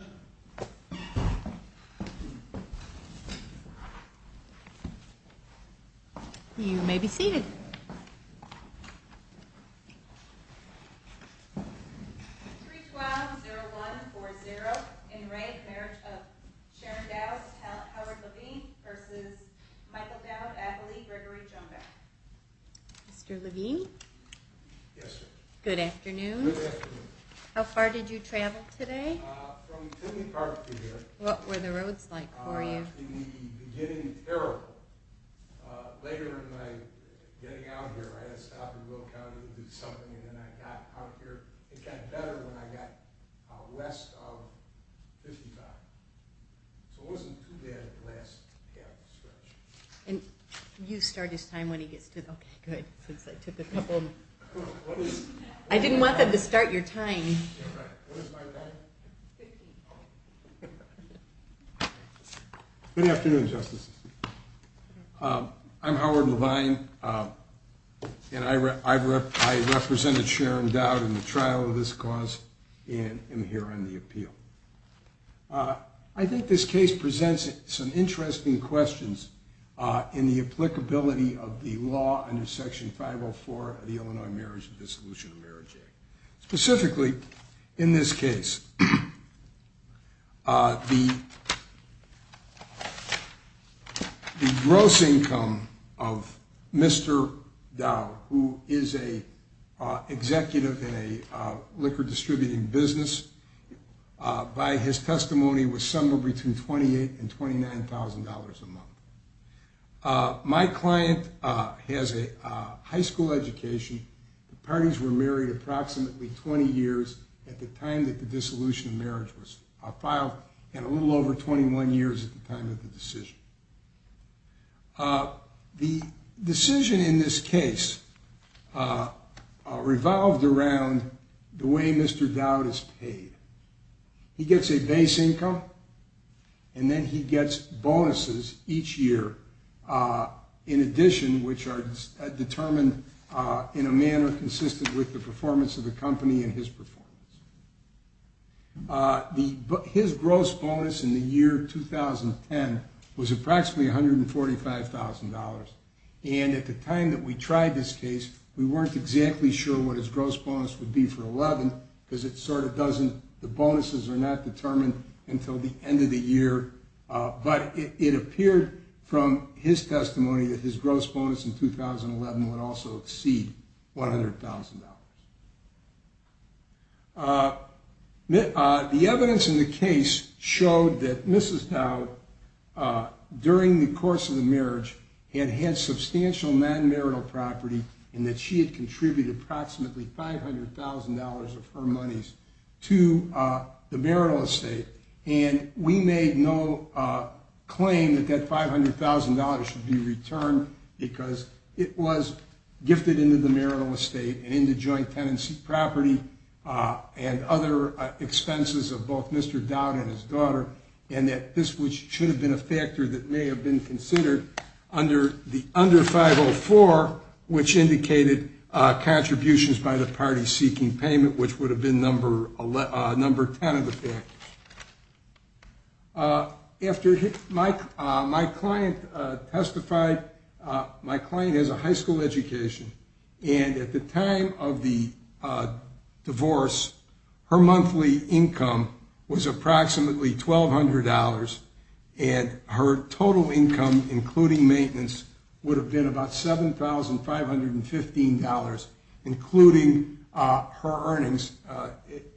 Howard Levine v. Michael Dowd, Adlai Gregory Joan Bass Mr. Levine? Yes sir. Good afternoon. Good afternoon. How far did you travel today? From Sydney Park to here. What were the roads like for you? In the beginning, terrible. Later in my getting out here, I had to stop in Will County to do something, and then I got out here. It got better when I got west of 55th. So it wasn't too bad at the last half stretch. You start his time when he gets to, okay, good, since I took a couple. Good afternoon. I didn't want them to start your time. Good afternoon, Justices. I'm Howard Levine, and I represented Sharon Dowd in the trial of this cause, and I'm here on the appeal. I think this case presents some interesting questions in the applicability of the law under Section 504 of the Illinois Marriage and Dissolution of Marriage Act. Specifically, in this case, the gross income of Mr. Dowd, who is an executive in a liquor distributing business, by his testimony was somewhere between $28,000 and $29,000 a month. My client has a high school education. The parties were married approximately 20 years at the time that the dissolution of marriage was filed, and a little over 21 years at the time of the decision. The decision in this case revolved around the way Mr. Dowd is paid. He gets a base income, and then he gets bonuses each year, in addition, which are determined in a manner consistent with the performance of the company and his performance. His gross bonus in the year 2010 was approximately $145,000, and at the time that we tried this the bonuses are not determined until the end of the year, but it appeared from his testimony that his gross bonus in 2011 would also exceed $100,000. The evidence in the case showed that Mrs. Dowd, during the course of the marriage, had had substantial non-marital property, and that she had contributed approximately $500,000 of her monies to the marital estate. We made no claim that that $500,000 should be returned, because it was gifted into the marital estate and into joint tenancy property and other expenses of both Mr. Dowd and his daughter, and that this should have been a factor that may have been considered under 504, which indicated contributions by the party seeking payment, which would have been number 10 of the factors. After my client testified, my client has a high school education, and at the time of the divorce, her monthly income was approximately $1,200, and her total income, including maintenance, would have been about $7,515, including her earnings.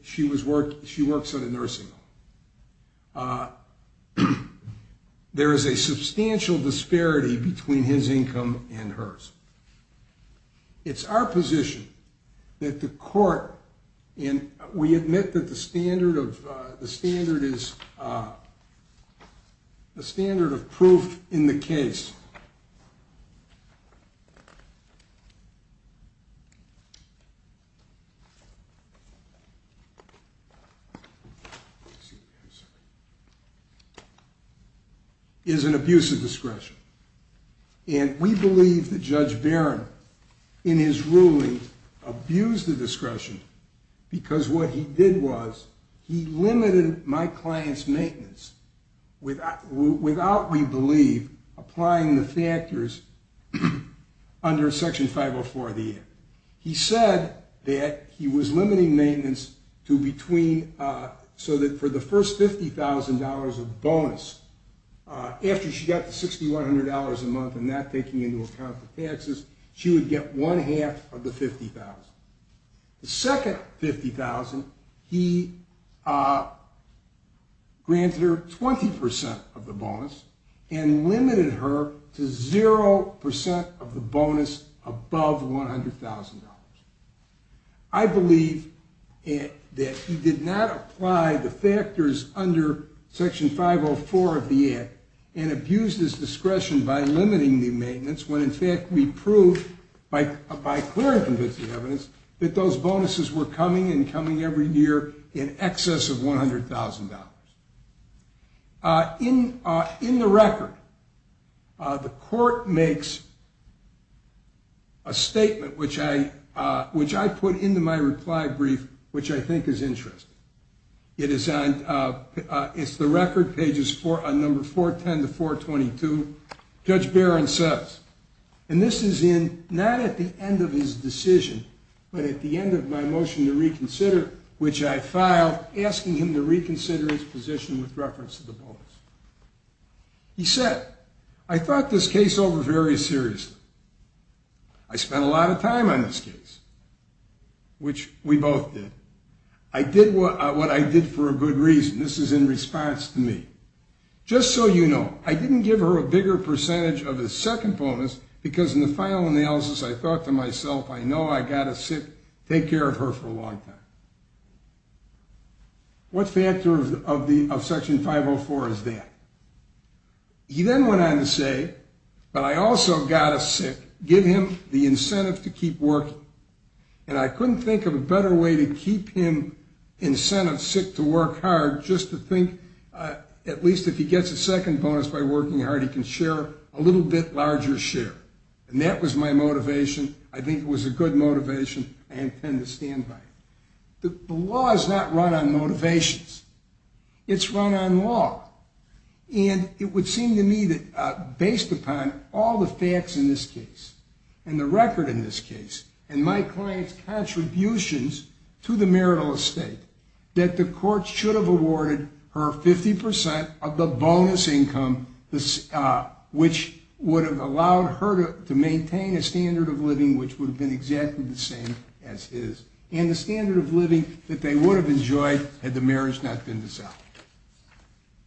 She works at a nursing home. There is a substantial disparity between his income and hers. It's our position that the court, and we admit that the standard of proof in the case is an abuse of discretion. And we believe that Judge Barron, in his ruling, abused the discretion, because what he did was he limited my client's maintenance without, we believe, applying the factors under Section 504 of the Act. He said that he was limiting maintenance so that for the first $50,000 of bonus, after she got the $6,100 a month and that taking into account the taxes, she would get one half of the $50,000. The second $50,000, he granted her 20% of the bonus and limited her to 0% of the bonus above $100,000. I believe that he did not apply the factors under Section 504 of the Act and abused his discretion by limiting the maintenance when, in fact, we proved by clear and convincing evidence that those bonuses were coming and coming every year in excess of $100,000. In the record, the court makes a statement, which I put into my reply brief, which I think is interesting. It's the record, pages number 410 to 422. Judge Barron says, and this is not at the end of his decision, but at the end of my reconsider his position with reference to the bonus. He said, I thought this case over very seriously. I spent a lot of time on this case, which we both did. I did what I did for a good reason. This is in response to me. Just so you know, I didn't give her a bigger percentage of the second bonus because in the final analysis, I thought to myself, I know I got to sit, take care of her for a long time. What factor of Section 504 is that? He then went on to say, but I also got to sit, give him the incentive to keep working. And I couldn't think of a better way to keep him incentive sit to work hard just to think at least if he gets a second bonus by working hard, he can share a little bit larger share. And that was my motivation. I think it was a good motivation. I intend to stand by it. The law is not run on motivations. It's run on law. And it would seem to me that based upon all the facts in this case and the record in this case and my client's contributions to the marital estate, that the courts should have awarded her 50% of the bonus income, which would have allowed her to maintain a And the standard of living that they would have enjoyed had the marriage not been dissolved.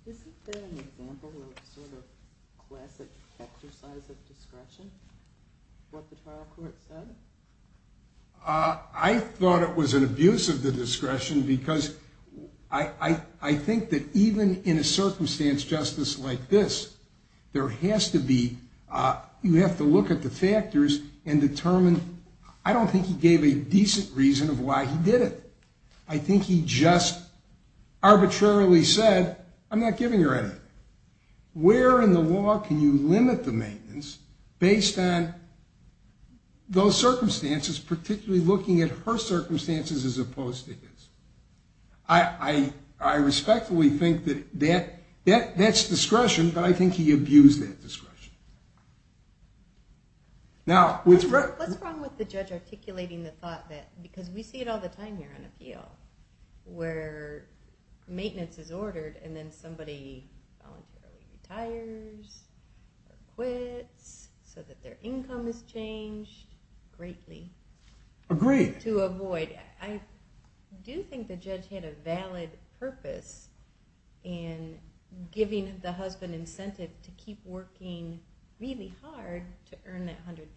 Isn't there an example of a sort of classic exercise of discretion? What the trial court said? I thought it was an abuse of the discretion because I think that even in a circumstance justice like this, there has to be, you have to look at the factors and determine, I don't think he gave a decent reason of why he did it. I think he just arbitrarily said, I'm not giving her anything. Where in the law can you limit the maintenance based on those circumstances, particularly looking at her circumstances as opposed to his? I respectfully think that that's discretion, but I think he abused that discretion. What's wrong with the judge articulating the thought that, because we see it all the time here on appeal, where maintenance is ordered and then somebody retires or quits so that their income is changed greatly. Agreed. To avoid. I do think the judge had a valid purpose in giving the husband incentive to keep working really hard to earn that $100,000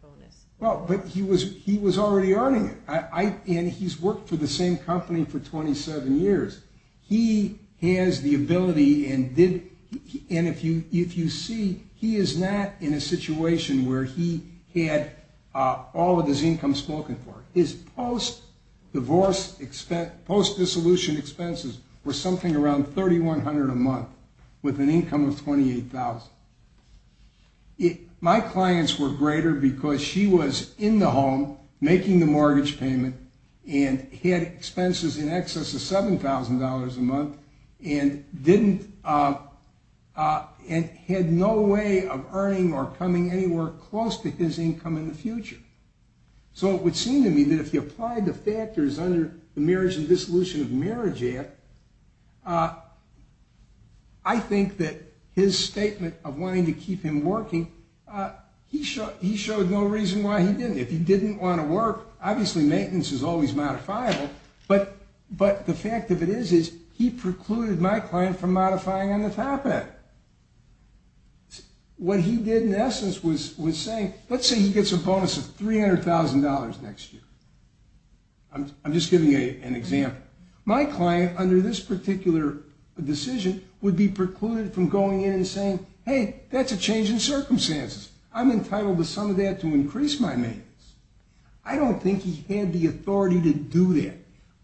bonus. Well, but he was already earning it. And he's worked for the same company for 27 years. He has the ability and if you see, he is not in a situation where he had all of his income spoken for. His post-divorce, post-dissolution expenses were something around $3,100 a month with an income of $28,000. My clients were greater because she was in the home making the mortgage payment and had expenses in excess of $7,000 a month and had no way of earning or coming anywhere close to his income in the future. So it would seem to me that if he applied the factors under the Marriage and Dissolution of Marriage Act, I think that his statement of wanting to keep him working, he showed no reason why he didn't. If he didn't want to work, obviously maintenance is always modifiable, but the fact of it is is he precluded my client from modifying on the topic. What he did in essence was saying, let's say he gets a bonus of $300,000 next year. I'm just giving you an example. My client under this particular decision would be precluded from going in and saying, hey, that's a change in circumstances. I'm entitled to some of that to increase my maintenance. I don't think he had the authority to do that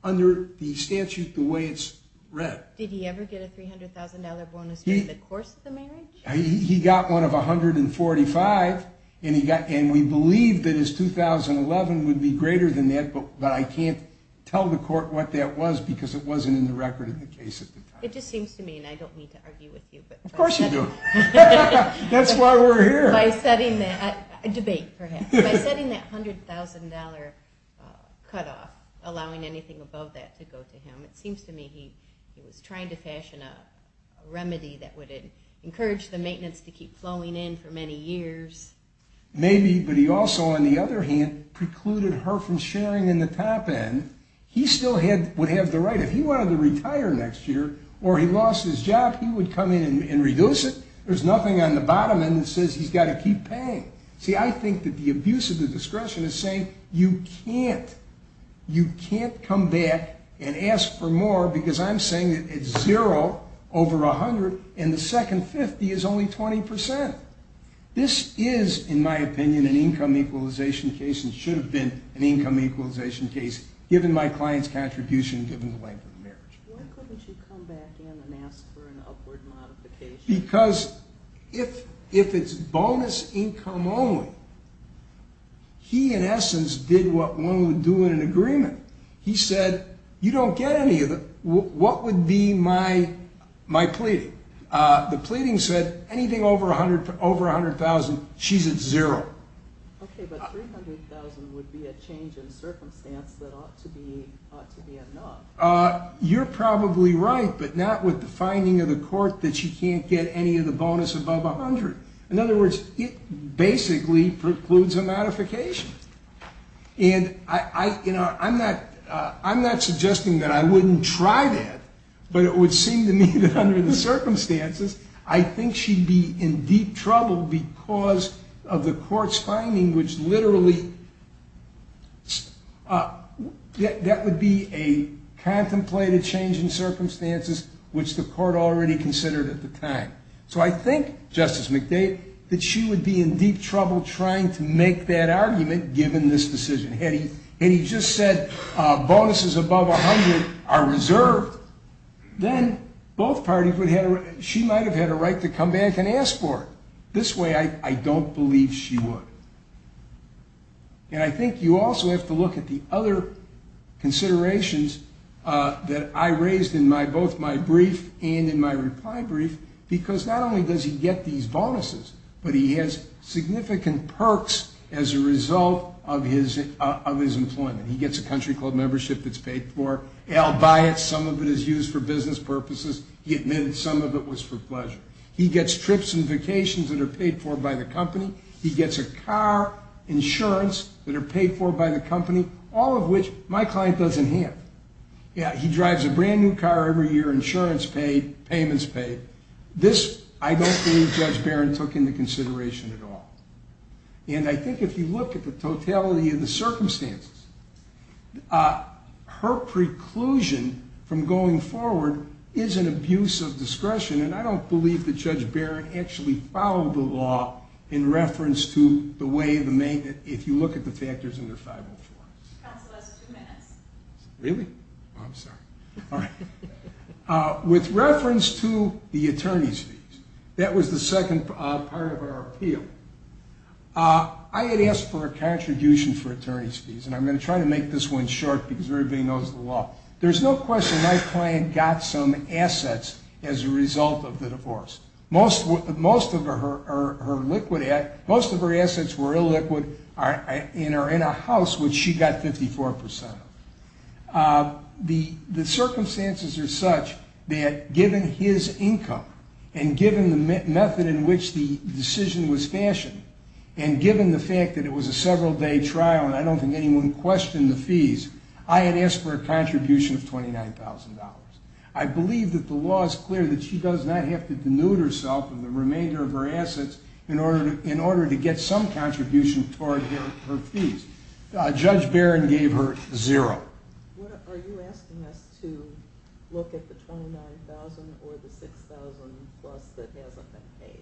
under the statute the way it's read. Did he ever get a $300,000 bonus during the course of the marriage? He got one of $145,000 and we believe that his 2011 would be greater than that, but I can't tell the court what that was because it wasn't in the record of the case at the time. It just seems to me, and I don't mean to argue with you. Of course you do. That's why we're here. By setting that $100,000 cutoff, allowing anything above that to go to him. It seems to me he was trying to fashion a remedy that would encourage the maintenance to keep flowing in for many years. Maybe, but he also, on the other hand, precluded her from sharing in the top end. He still would have the right. If he wanted to retire next year or he lost his job, he would come in and reduce it. There's nothing on the bottom end that says he's got to keep paying. See, I think that the abuse of the discretion is saying you can't come back and ask for more because I'm saying that it's zero over $100,000 and the second $50,000 is only 20%. This is, in my opinion, an income equalization case and should have been an income equalization case given my client's contribution and given the length of the marriage. Why couldn't you come back in and ask for an upward modification? Because if it's bonus income only, he, in essence, did what one would do in an agreement. He said, you don't get any of it. What would be my pleading? The pleading said anything over $100,000, she's at zero. Okay, but $300,000 would be a change in circumstance that ought to be enough. You're probably right, but not with the finding of the court that she can't get any of the bonus above $100,000. In other words, it basically precludes a modification. And I'm not suggesting that I wouldn't try that, but it would seem to me that under the circumstances, I think she'd be in deep trouble because of the court's finding which literally, that would be a contemplated change in circumstances which the court already considered at the time. So I think, Justice McDade, that she would be in deep trouble trying to make that argument given this decision. Had he just said bonuses above $100,000 are reserved, then both parties would have, she might have had a right to come back and ask for it. This way, I don't believe she would. And I think you also have to look at the other considerations that I raised in both my brief and in my reply brief because not only does he get these bonuses, but he has significant perks as a result of his employment. He gets a country club membership that's paid for. I'll buy it. Some of it is used for business purposes. He admitted some of it was for pleasure. He gets trips and vacations that are paid for by the company. He gets a car, insurance that are paid for by the company, all of which my client doesn't have. He drives a brand new car every year, insurance paid, payments paid. This, I don't think Judge Barron took into consideration at all. And I think if you look at the totality of the circumstances, her preclusion from going forward is an abuse of discretion. And I don't believe that Judge Barron actually followed the law in reference to the way that if you look at the factors under 504. Counsel, that's two minutes. Really? I'm sorry. All right. With reference to the attorney's fees, that was the second part of our appeal. I had asked for a contribution for attorney's fees, and I'm going to try to make this one short because everybody knows the law. There's no question my client got some assets as a result of the divorce. Most of her assets were illiquid and are in a house which she got 54 percent of. The circumstances are such that given his income and given the method in which the decision was fashioned and given the fact that it was a several-day trial, and I don't think anyone questioned the fees, I had asked for a contribution of $29,000. I believe that the law is clear that she does not have to denude herself of the remainder of her assets in order to get some contribution toward her fees. Judge Barron gave her zero. Are you asking us to look at the $29,000 or the $6,000 plus that hasn't been paid?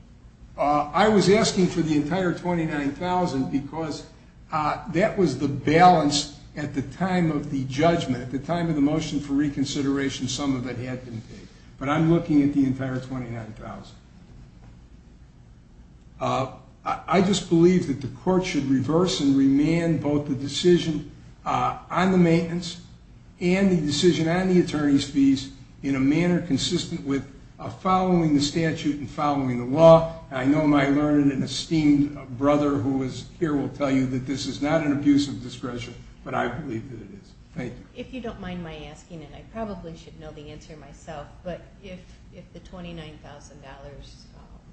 I was asking for the entire $29,000 because that was the balance at the time of the judgment. At the time of the motion for reconsideration, some of it had been paid, but I'm looking at the entire $29,000. I just believe that the court should reverse and remand both the decision on the maintenance and the decision on the attorney's fees in a manner consistent with following the statute and following the law. I know my learned and esteemed brother who is here will tell you that this is not an abuse of discretion, but I believe that it is. Thank you. If you don't mind my asking, and I probably should know the answer myself, but if the $29,000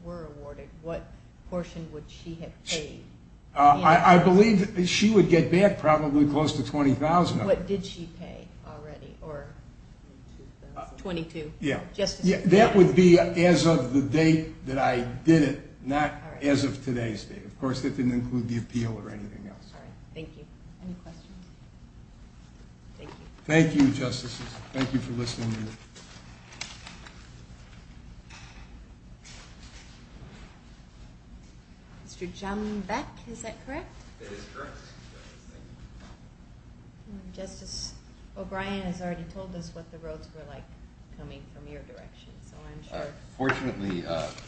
were awarded, what portion would she have paid? I believe she would get back probably close to $20,000. What did she pay already, or? $22,000. $22,000? Yeah. That would be as of the date that I did it, not as of today's date. Of course, that didn't include the appeal or anything else. All right. Thank you. Any questions? Thank you. Thank you, Justices. Thank you for listening to me. Mr. John Beck, is that correct? That is correct. Thank you. Justice O'Brien has already told us what the roads were like coming from your direction, so I'm sure. Fortunately,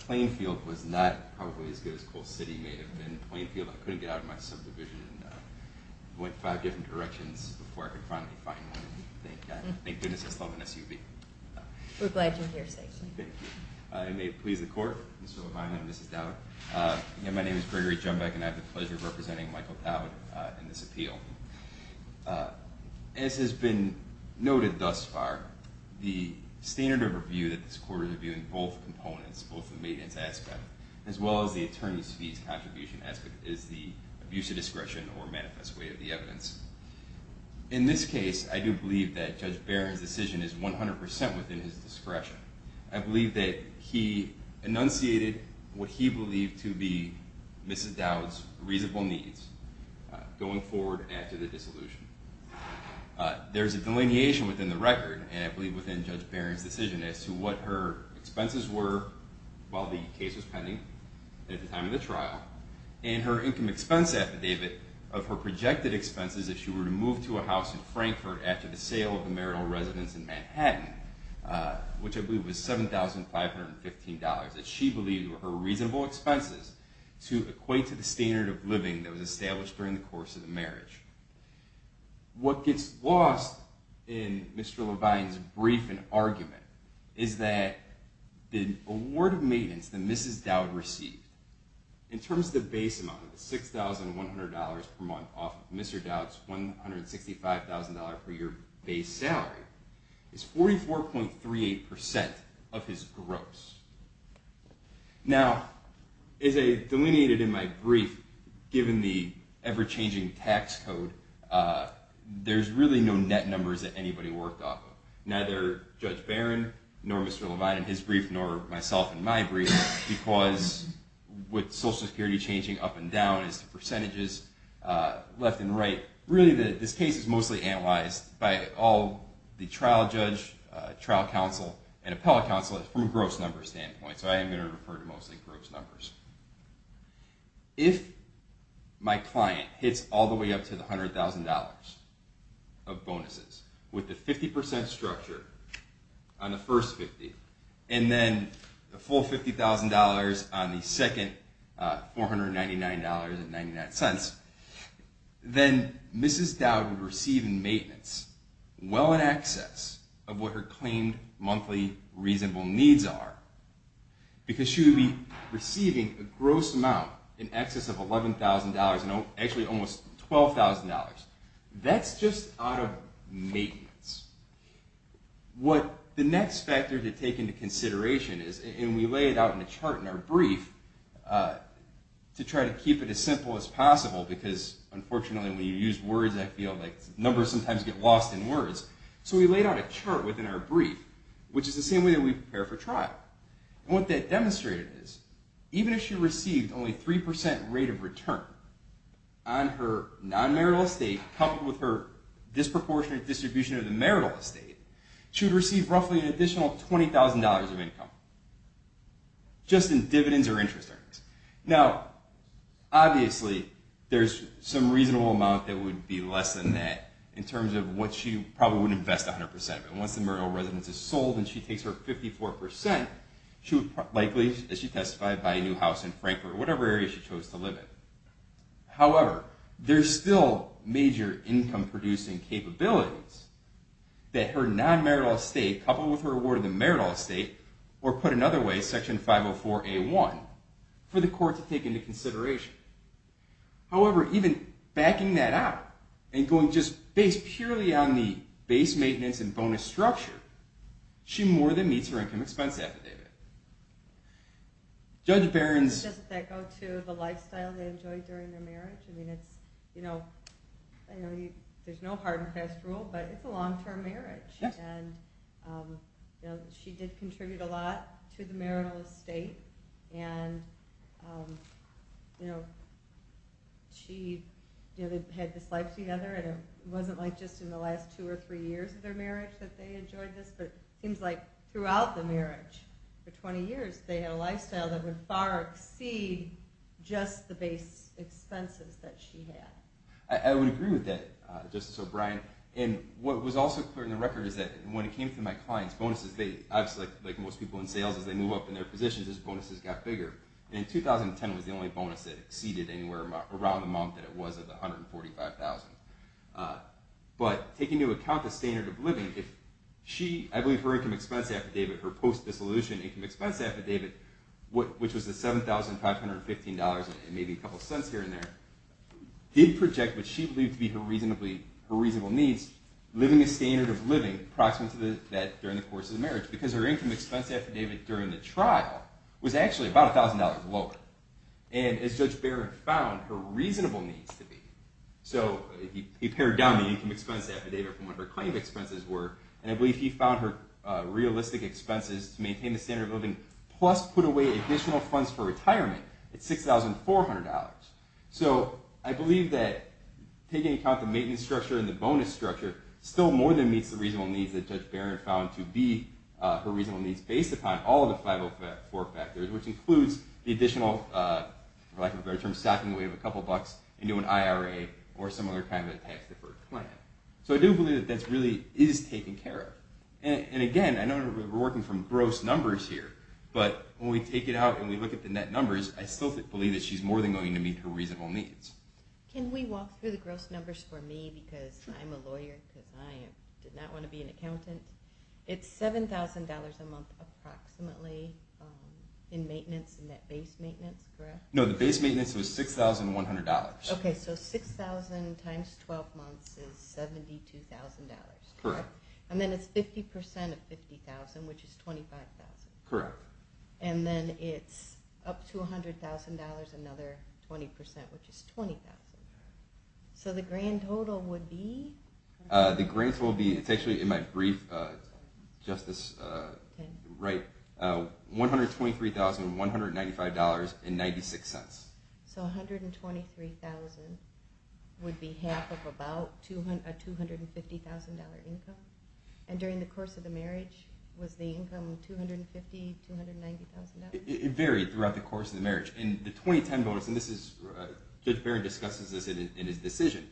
Plainfield was not probably as good as Cole City may have been. Plainfield, I couldn't get out of my subdivision and went five different directions before I could finally find one. Thank goodness I still have an SUV. We're glad you're here, sir. Thank you. It may please the Court, Mr. O'Brien and Mrs. Dowd. My name is Gregory John Beck, and I have the pleasure of representing Michael Dowd in this appeal. As has been noted thus far, the standard of review that this Court is reviewing, both components, both the maintenance aspect as well as the attorney's fees contribution aspect, is the abuse of discretion or manifest way of the evidence. In this case, I do believe that Judge Barron's decision is 100 percent within his discretion. I believe that he enunciated what he believed to be Mrs. Dowd's reasonable needs, going forward after the dissolution. There's a delineation within the record, and I believe within Judge Barron's decision, as to what her expenses were while the case was pending at the time of the trial, and her income expense affidavit of her projected expenses if she were to move to a house in Frankfort after the sale of the marital residence in Manhattan, which I believe was $7,515, that she believed were her reasonable expenses to equate to the standard of living that was What gets lost in Mr. Levine's brief and argument is that the award of maintenance that Mrs. Dowd received, in terms of the base amount, $6,100 per month off of Mr. Dowd's $165,000 per year base salary, is 44.38 percent of his gross. Now, as I delineated in my brief, given the ever-changing tax code, there's really no net numbers that anybody worked off of. Neither Judge Barron, nor Mr. Levine in his brief, nor myself in my brief, because with Social Security changing up and down as the percentages left and right, really this case is mostly analyzed by all the trial judge, trial counsel, and appellate counsel from a gross number standpoint. So I am going to refer to mostly gross numbers. If my client hits all the way up to the $100,000 of bonuses with the 50 percent structure on the first 50, and then the full $50,000 on the second $499.99, then Mrs. Dowd would receive in maintenance well in excess of what her claimed monthly reasonable needs are, because she would be receiving a gross amount in excess of $11,000, actually almost $12,000. That's just out of maintenance. What the next factor to take into consideration is, and we lay it out in the chart in our brief, to try to keep it as simple as possible, because unfortunately when you use words like that, numbers sometimes get lost in words. So we laid out a chart within our brief, which is the same way that we prepare for trial. What that demonstrated is, even if she received only 3 percent rate of return on her non-marital estate, coupled with her disproportionate distribution of the marital estate, she would receive roughly an additional $20,000 of income, just in dividends or interest earnings. Now, obviously, there's some reasonable amount that would be less than that, in terms of what she probably would invest 100 percent of it. Once the marital residence is sold and she takes her 54 percent, she would likely, as she testified, buy a new house in Frankfort, whatever area she chose to live in. However, there's still major income-producing capabilities that her non-marital estate, coupled with her award of the marital estate, or put another way, Section 504A1, for the court to take into consideration. However, even backing that out and going just based purely on the base maintenance and bonus structure, she more than meets her income expense affidavit. Judge Barron's... Doesn't that go to the lifestyle they enjoyed during their marriage? I mean, it's, you know, there's no hard and fast rule, but it's a long-term marriage. And she did contribute a lot to the marital estate. And, you know, she had this life together, and it wasn't like just in the last two or three years of their marriage that they enjoyed this. But it seems like throughout the marriage, for 20 years, they had a lifestyle that would far exceed just the base expenses that she had. I would agree with that, Justice O'Brien. And what was also clear in the record is that when it came to my clients' bonuses, obviously, like most people in sales, as they move up in their positions, those bonuses got bigger. And in 2010, it was the only bonus that exceeded anywhere around the amount that it was at the $145,000. But taking into account the standard of living, if she... I believe her income expense affidavit, her post-dissolution income expense affidavit, which was the $7,515 and maybe a couple cents here and there, did project what she believed to be her reasonable needs, living the standard of living approximate to that during the course of the marriage. Because her income expense affidavit during the trial was actually about $1,000 lower. And as Judge Barron found, her reasonable needs to be. So he pared down the income expense affidavit from what her claim expenses were, and I believe he found her realistic expenses to maintain the standard of living plus put away additional funds for retirement at $6,400. So I believe that taking account the maintenance structure and the bonus structure, still more than meets the reasonable needs that Judge Barron found to be her reasonable needs based upon all of the 504 factors, which includes the additional, for lack of a better term, stacking away of a couple bucks into an IRA or some other kind of tax-deferred plan. So I do believe that that really is taken care of. And again, I know we're working from gross numbers here, but when we take it out and we look at the net numbers, I still believe that she's more than going to meet her reasonable needs. Can we walk through the gross numbers for me, because I'm a lawyer and I did not want to be an accountant. It's $7,000 a month approximately in maintenance, in that base maintenance, correct? No, the base maintenance was $6,100. Okay, so $6,000 times 12 months is $72,000. Correct. And then it's 50% of $50,000, which is $25,000. Correct. And then it's up to $100,000, another 20%, which is $20,000. So the grand total would be? The grand total would be, it's actually in my brief, just this right, $123,195.96. So $123,000 would be half of about a $250,000 income. And during the course of the marriage, was the income $250,000, $290,000? It varied throughout the course of the marriage. In the 2010 bonus, and this is, Judge Barron discusses this in his decision,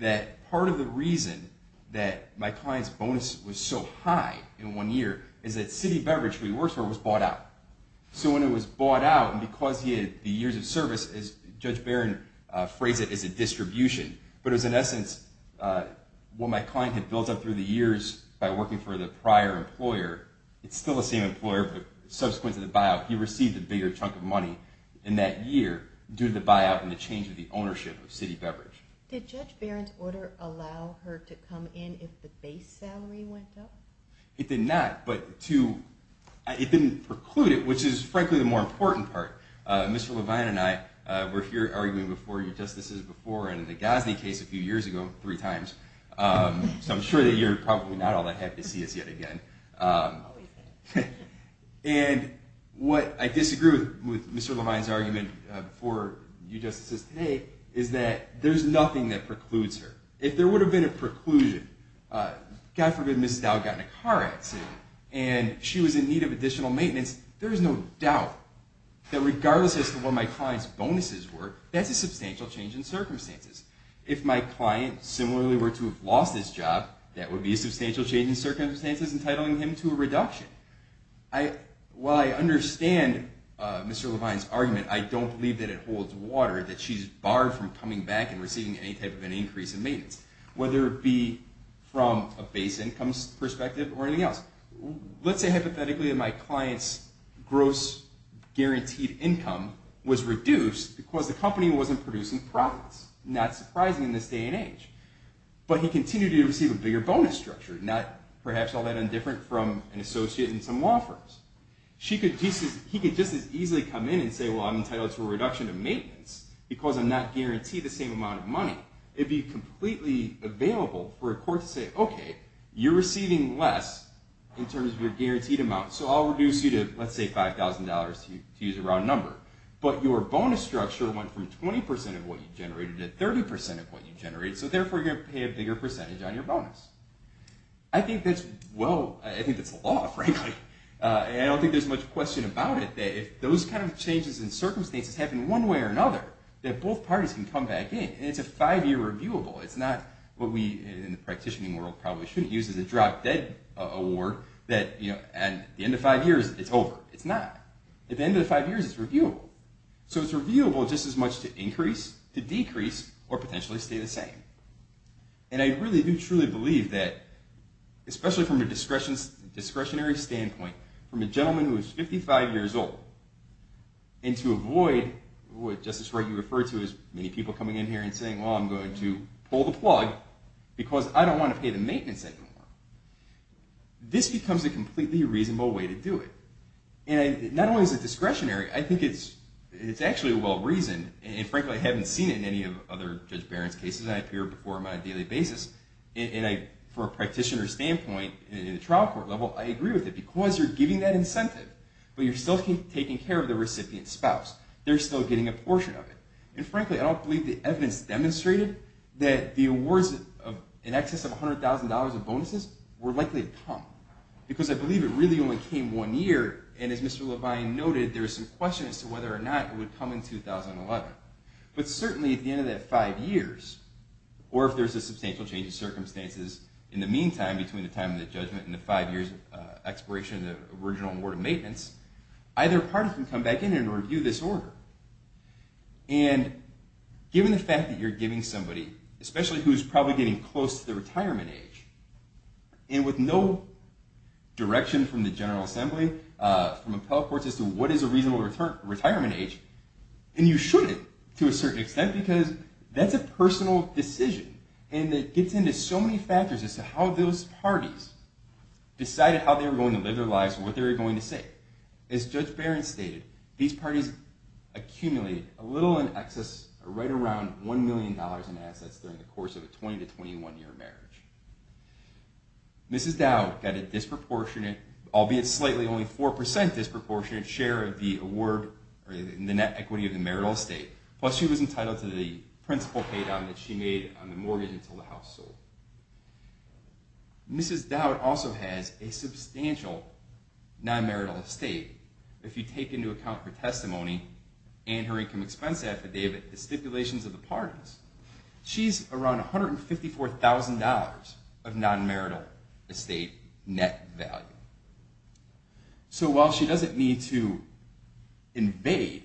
that part of the reason that my client's bonus was so high in one year is that city beverage that he works for was bought out. So when it was bought out, and because he had the years of service, as Judge Barron phrased it, as a distribution. But it was, in essence, what my client had built up through the years by working for the prior employer. It's still the same employer, but subsequent to the buyout, he received a bigger chunk of money in that year due to the buyout and the change of the ownership of city beverage. Did Judge Barron's order allow her to come in if the base salary went up? It did not, but it didn't preclude it, which is, frankly, the more important part. Mr. Levine and I were here arguing before your justices before in the Gosney case a few years ago, three times. So I'm sure that you're probably not all that happy to see us yet again. And what I disagree with Mr. Levine's argument before your justices today is that there's nothing that precludes her. If there would have been a preclusion, God forbid Mrs. Dowd got in a car accident, and she was in need of additional maintenance, there is no doubt that regardless as to what my client's bonuses were, that's a substantial change in circumstances. If my client similarly were to have lost his job, that would be a substantial change in circumstances entitling him to a reduction. While I understand Mr. Levine's argument, I don't believe that it holds water, that she's barred from coming back and receiving any type of an increase in maintenance, whether it be from a base income perspective or anything else. Let's say hypothetically that my client's gross guaranteed income was reduced because the company wasn't producing profits. Not surprising in this day and age. But he continued to receive a bigger bonus structure, not perhaps all that indifferent from an associate in some law firms. He could just as easily come in and say, well, I'm entitled to a reduction of maintenance because I'm not guaranteed the same amount of money. It would be completely available for a court to say, OK, you're receiving less in terms of your guaranteed amount, so I'll reduce you to, let's say, $5,000 to use a round number. But your bonus structure went from 20% of what you generated to 30% of what you generated, so therefore you're going to pay a bigger percentage on your bonus. I think that's a law, frankly. And I don't think there's much question about it that if those kind of changes in circumstances happen one way or another, that both parties can come back in. And it's a five-year reviewable. It's not what we in the practitioning world probably shouldn't use as a drop-dead award that at the end of five years, it's over. It's not. At the end of the five years, it's reviewable. So it's reviewable just as much to increase, to decrease, or potentially stay the same. And I really do truly believe that, especially from a discretionary standpoint, from a gentleman who is 55 years old, and to avoid what, Justice Wright, what we refer to as many people coming in here and saying, well, I'm going to pull the plug because I don't want to pay the maintenance I don't want. This becomes a completely reasonable way to do it. And not only is it discretionary, I think it's actually well-reasoned. And frankly, I haven't seen it in any of Judge Barron's cases. I appear before him on a daily basis. And for a practitioner standpoint, in a trial court level, I agree with it because you're giving that incentive. But you're still taking care of the recipient's spouse. They're still getting a portion of it. And frankly, I don't believe the evidence demonstrated that the awards in excess of $100,000 of bonuses were likely to come because I believe it really only came one year. And as Mr. Levine noted, there is some question as to whether or not it would come in 2011. But certainly at the end of that five years, or if there's a substantial change of circumstances in the meantime between the time of the judgment and the five years expiration of the original award of maintenance, either party can come back in and review this order. And given the fact that you're giving somebody, especially who's probably getting close to the retirement age, and with no direction from the General Assembly, from appellate courts, as to what is a reasonable retirement age, and you shouldn't to a certain extent because that's a personal decision. And it gets into so many factors as to how those parties decided how they were going to live their lives and what they were going to save. As Judge Barron stated, these parties accumulated a little in excess, right around $1 million in assets during the course of a 20 to 21 year marriage. Mrs. Dow got a disproportionate, albeit slightly only 4% disproportionate, share of the award in the net equity of the marital estate. Plus she was entitled to the principal pay down that she made on the mortgage until the house sold. Mrs. Dow also has a substantial non-marital estate. If you take into account her testimony and her income expense affidavit, the stipulations of the parties, she's around $154,000 of non-marital estate net value. So while she doesn't need to invade,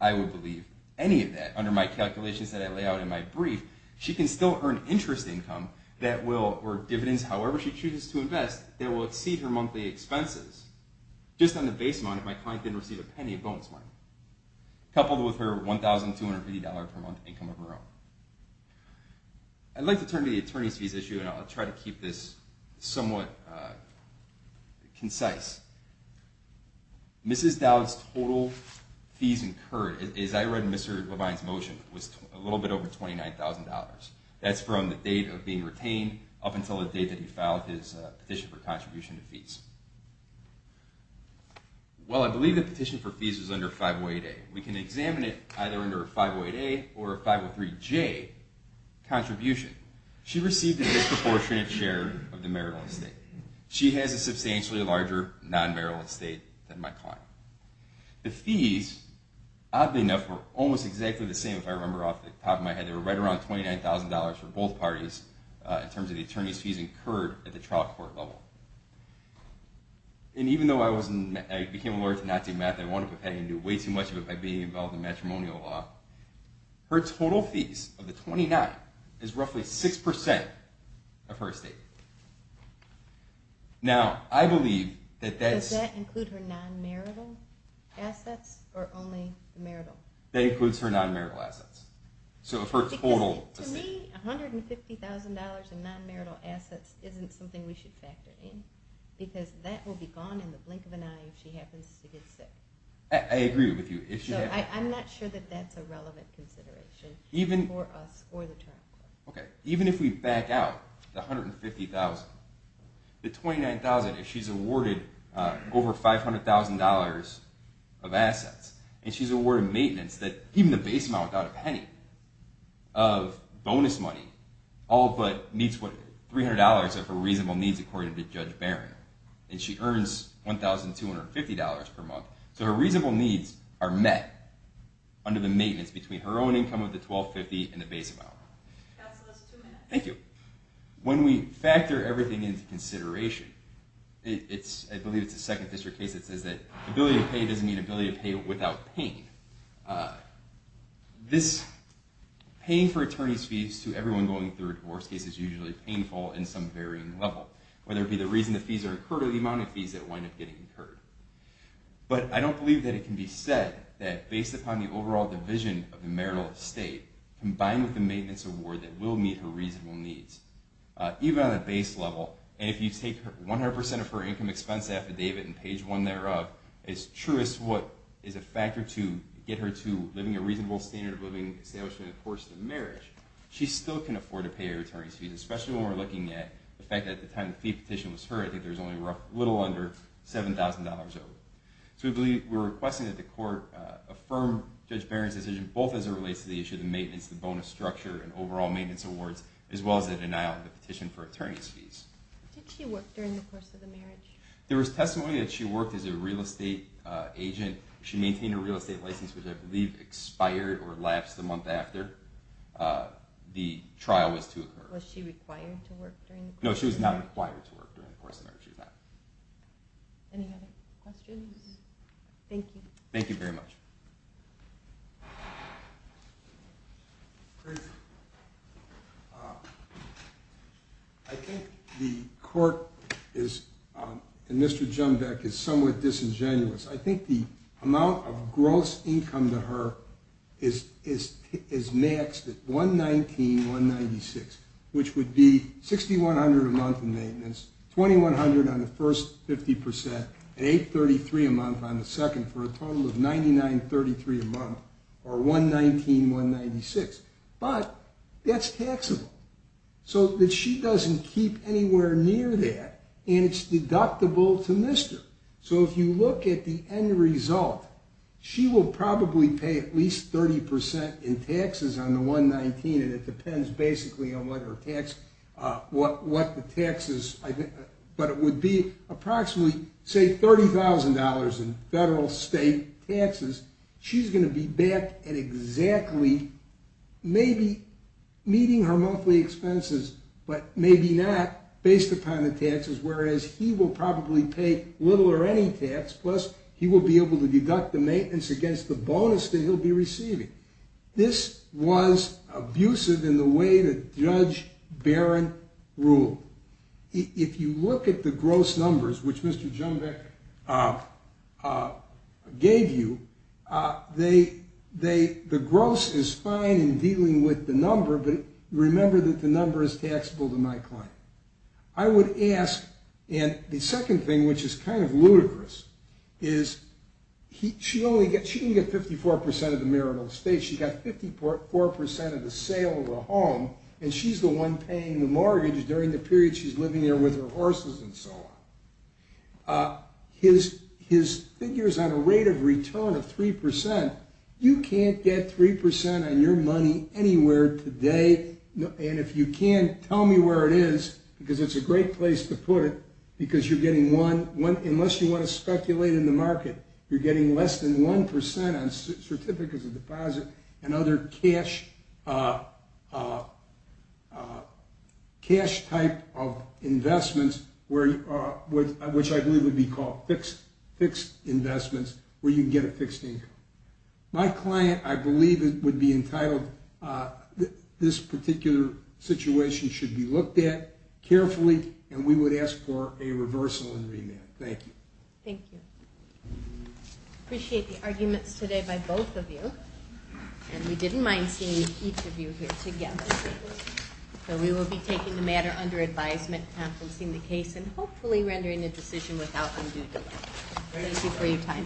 I would believe, any of that under my calculations that I lay out in my brief, she can still earn interest income or dividends, however she chooses to invest, that will exceed her monthly expenses. Just on the base amount, if my client didn't receive a penny, a bonus amount. Coupled with her $1,250 per month income of her own. I'd like to turn to the attorney's fees issue and I'll try to keep this somewhat concise. Mrs. Dow's total fees incurred, as I read in Mr. Levine's motion, was a little bit over $29,000. That's from the date of being retained up until the date that he filed his petition for contribution to fees. Well, I believe the petition for fees was under 508A. We can examine it either under a 508A or a 503J contribution. She received a disproportionate share of the marital estate. She has a substantially larger non-marital estate than my client. The fees, oddly enough, were almost exactly the same if I remember off the top of my head. They were right around $29,000 for both parties in terms of the attorney's fees incurred at the trial court level. And even though I became a lawyer through not doing math, I wound up paying way too much of it by being involved in matrimonial law, her total fees of the $29,000 is roughly 6% of her estate. Now, I believe that that's... Does that include her non-marital assets or only the marital? That includes her non-marital assets. Because to me, $150,000 in non-marital assets isn't something we should factor in because that will be gone in the blink of an eye if she happens to get sick. I agree with you. So I'm not sure that that's a relevant consideration for us or the trial court. Even if we back out the $150,000, the $29,000, if she's awarded over $500,000 of assets and she's awarded maintenance that even the base amount without a penny of bonus money all but meets $300 of her reasonable needs according to Judge Barron, and she earns $1,250 per month, so her reasonable needs are met under the maintenance between her own income of the $1,250,000 and the base amount. Thank you. When we factor everything into consideration, I believe it's a Second District case that says that ability to pay doesn't mean ability to pay without pain. This pain for attorneys' fees to everyone going through a divorce case is usually painful in some varying level, whether it be the reason the fees are incurred or the amount of fees that wind up getting incurred. But I don't believe that it can be said that based upon the overall division of the marital estate combined with the maintenance award that will meet her reasonable needs, even on a base level, and if you take 100% of her income expense affidavit and page one thereof, as true as what is a factor to get her to living a reasonable standard of living established during the course of the marriage, she still can afford to pay her attorney's fees, especially when we're looking at the fact that at the time the fee petition was heard, I think there was only a little under $7,000 owed. So we're requesting that the court affirm Judge Barron's decision, both as it relates to the issue of the maintenance, the bonus structure, and overall maintenance awards, as well as the denial of the petition for attorney's fees. Did she work during the course of the marriage? There was testimony that she worked as a real estate agent. She maintained a real estate license, which I believe expired or lapsed the month after the trial was to occur. Was she required to work during the course of the marriage? No, she was not required to work during the course of the marriage. Any other questions? Thank you. Thank you very much. I think the court and Mr. Jumbeck is somewhat disingenuous. I think the amount of gross income to her is maxed at $119,196, which would be $6,100 a month in maintenance, $2,100 on the first 50%, and $833 a month on the second for a total of $99.33 a month, or $119,196. But that's taxable. So she doesn't keep anywhere near that, and it's deductible to Mr. Jumbeck. So if you look at the end result, she will probably pay at least 30% in taxes on the $119,196, and it depends basically on what the taxes are. But it would be approximately, say, $30,000 in federal and state taxes. She's going to be back at exactly maybe meeting her monthly expenses, but maybe not based upon the taxes, whereas he will probably pay little or any tax, plus he will be able to deduct the maintenance against the bonus that he'll be receiving. This was abusive in the way that Judge Barron ruled. If you look at the gross numbers, which Mr. Jumbeck gave you, the gross is fine in dealing with the number, but remember that the number is taxable to my client. I would ask, and the second thing, which is kind of ludicrous, is she didn't get 54% of the marital estate. She got 54% of the sale of the home, and she's the one paying the mortgage during the period she's living there with her horses and so on. His figure is on a rate of return of 3%. You can't get 3% on your money anywhere today, and if you can, tell me where it is because it's a great place to put it because you're getting one, unless you want to speculate in the market, you're getting less than 1% on certificates of deposit and other cash type of investments, which I believe would be called fixed investments, where you can get a fixed income. My client, I believe it would be entitled, this particular situation should be looked at carefully, Thank you. I appreciate the arguments today by both of you, and we didn't mind seeing each of you here together. We will be taking the matter under advisement, conferencing the case, and hopefully rendering a decision without undue delay. Thank you for your time.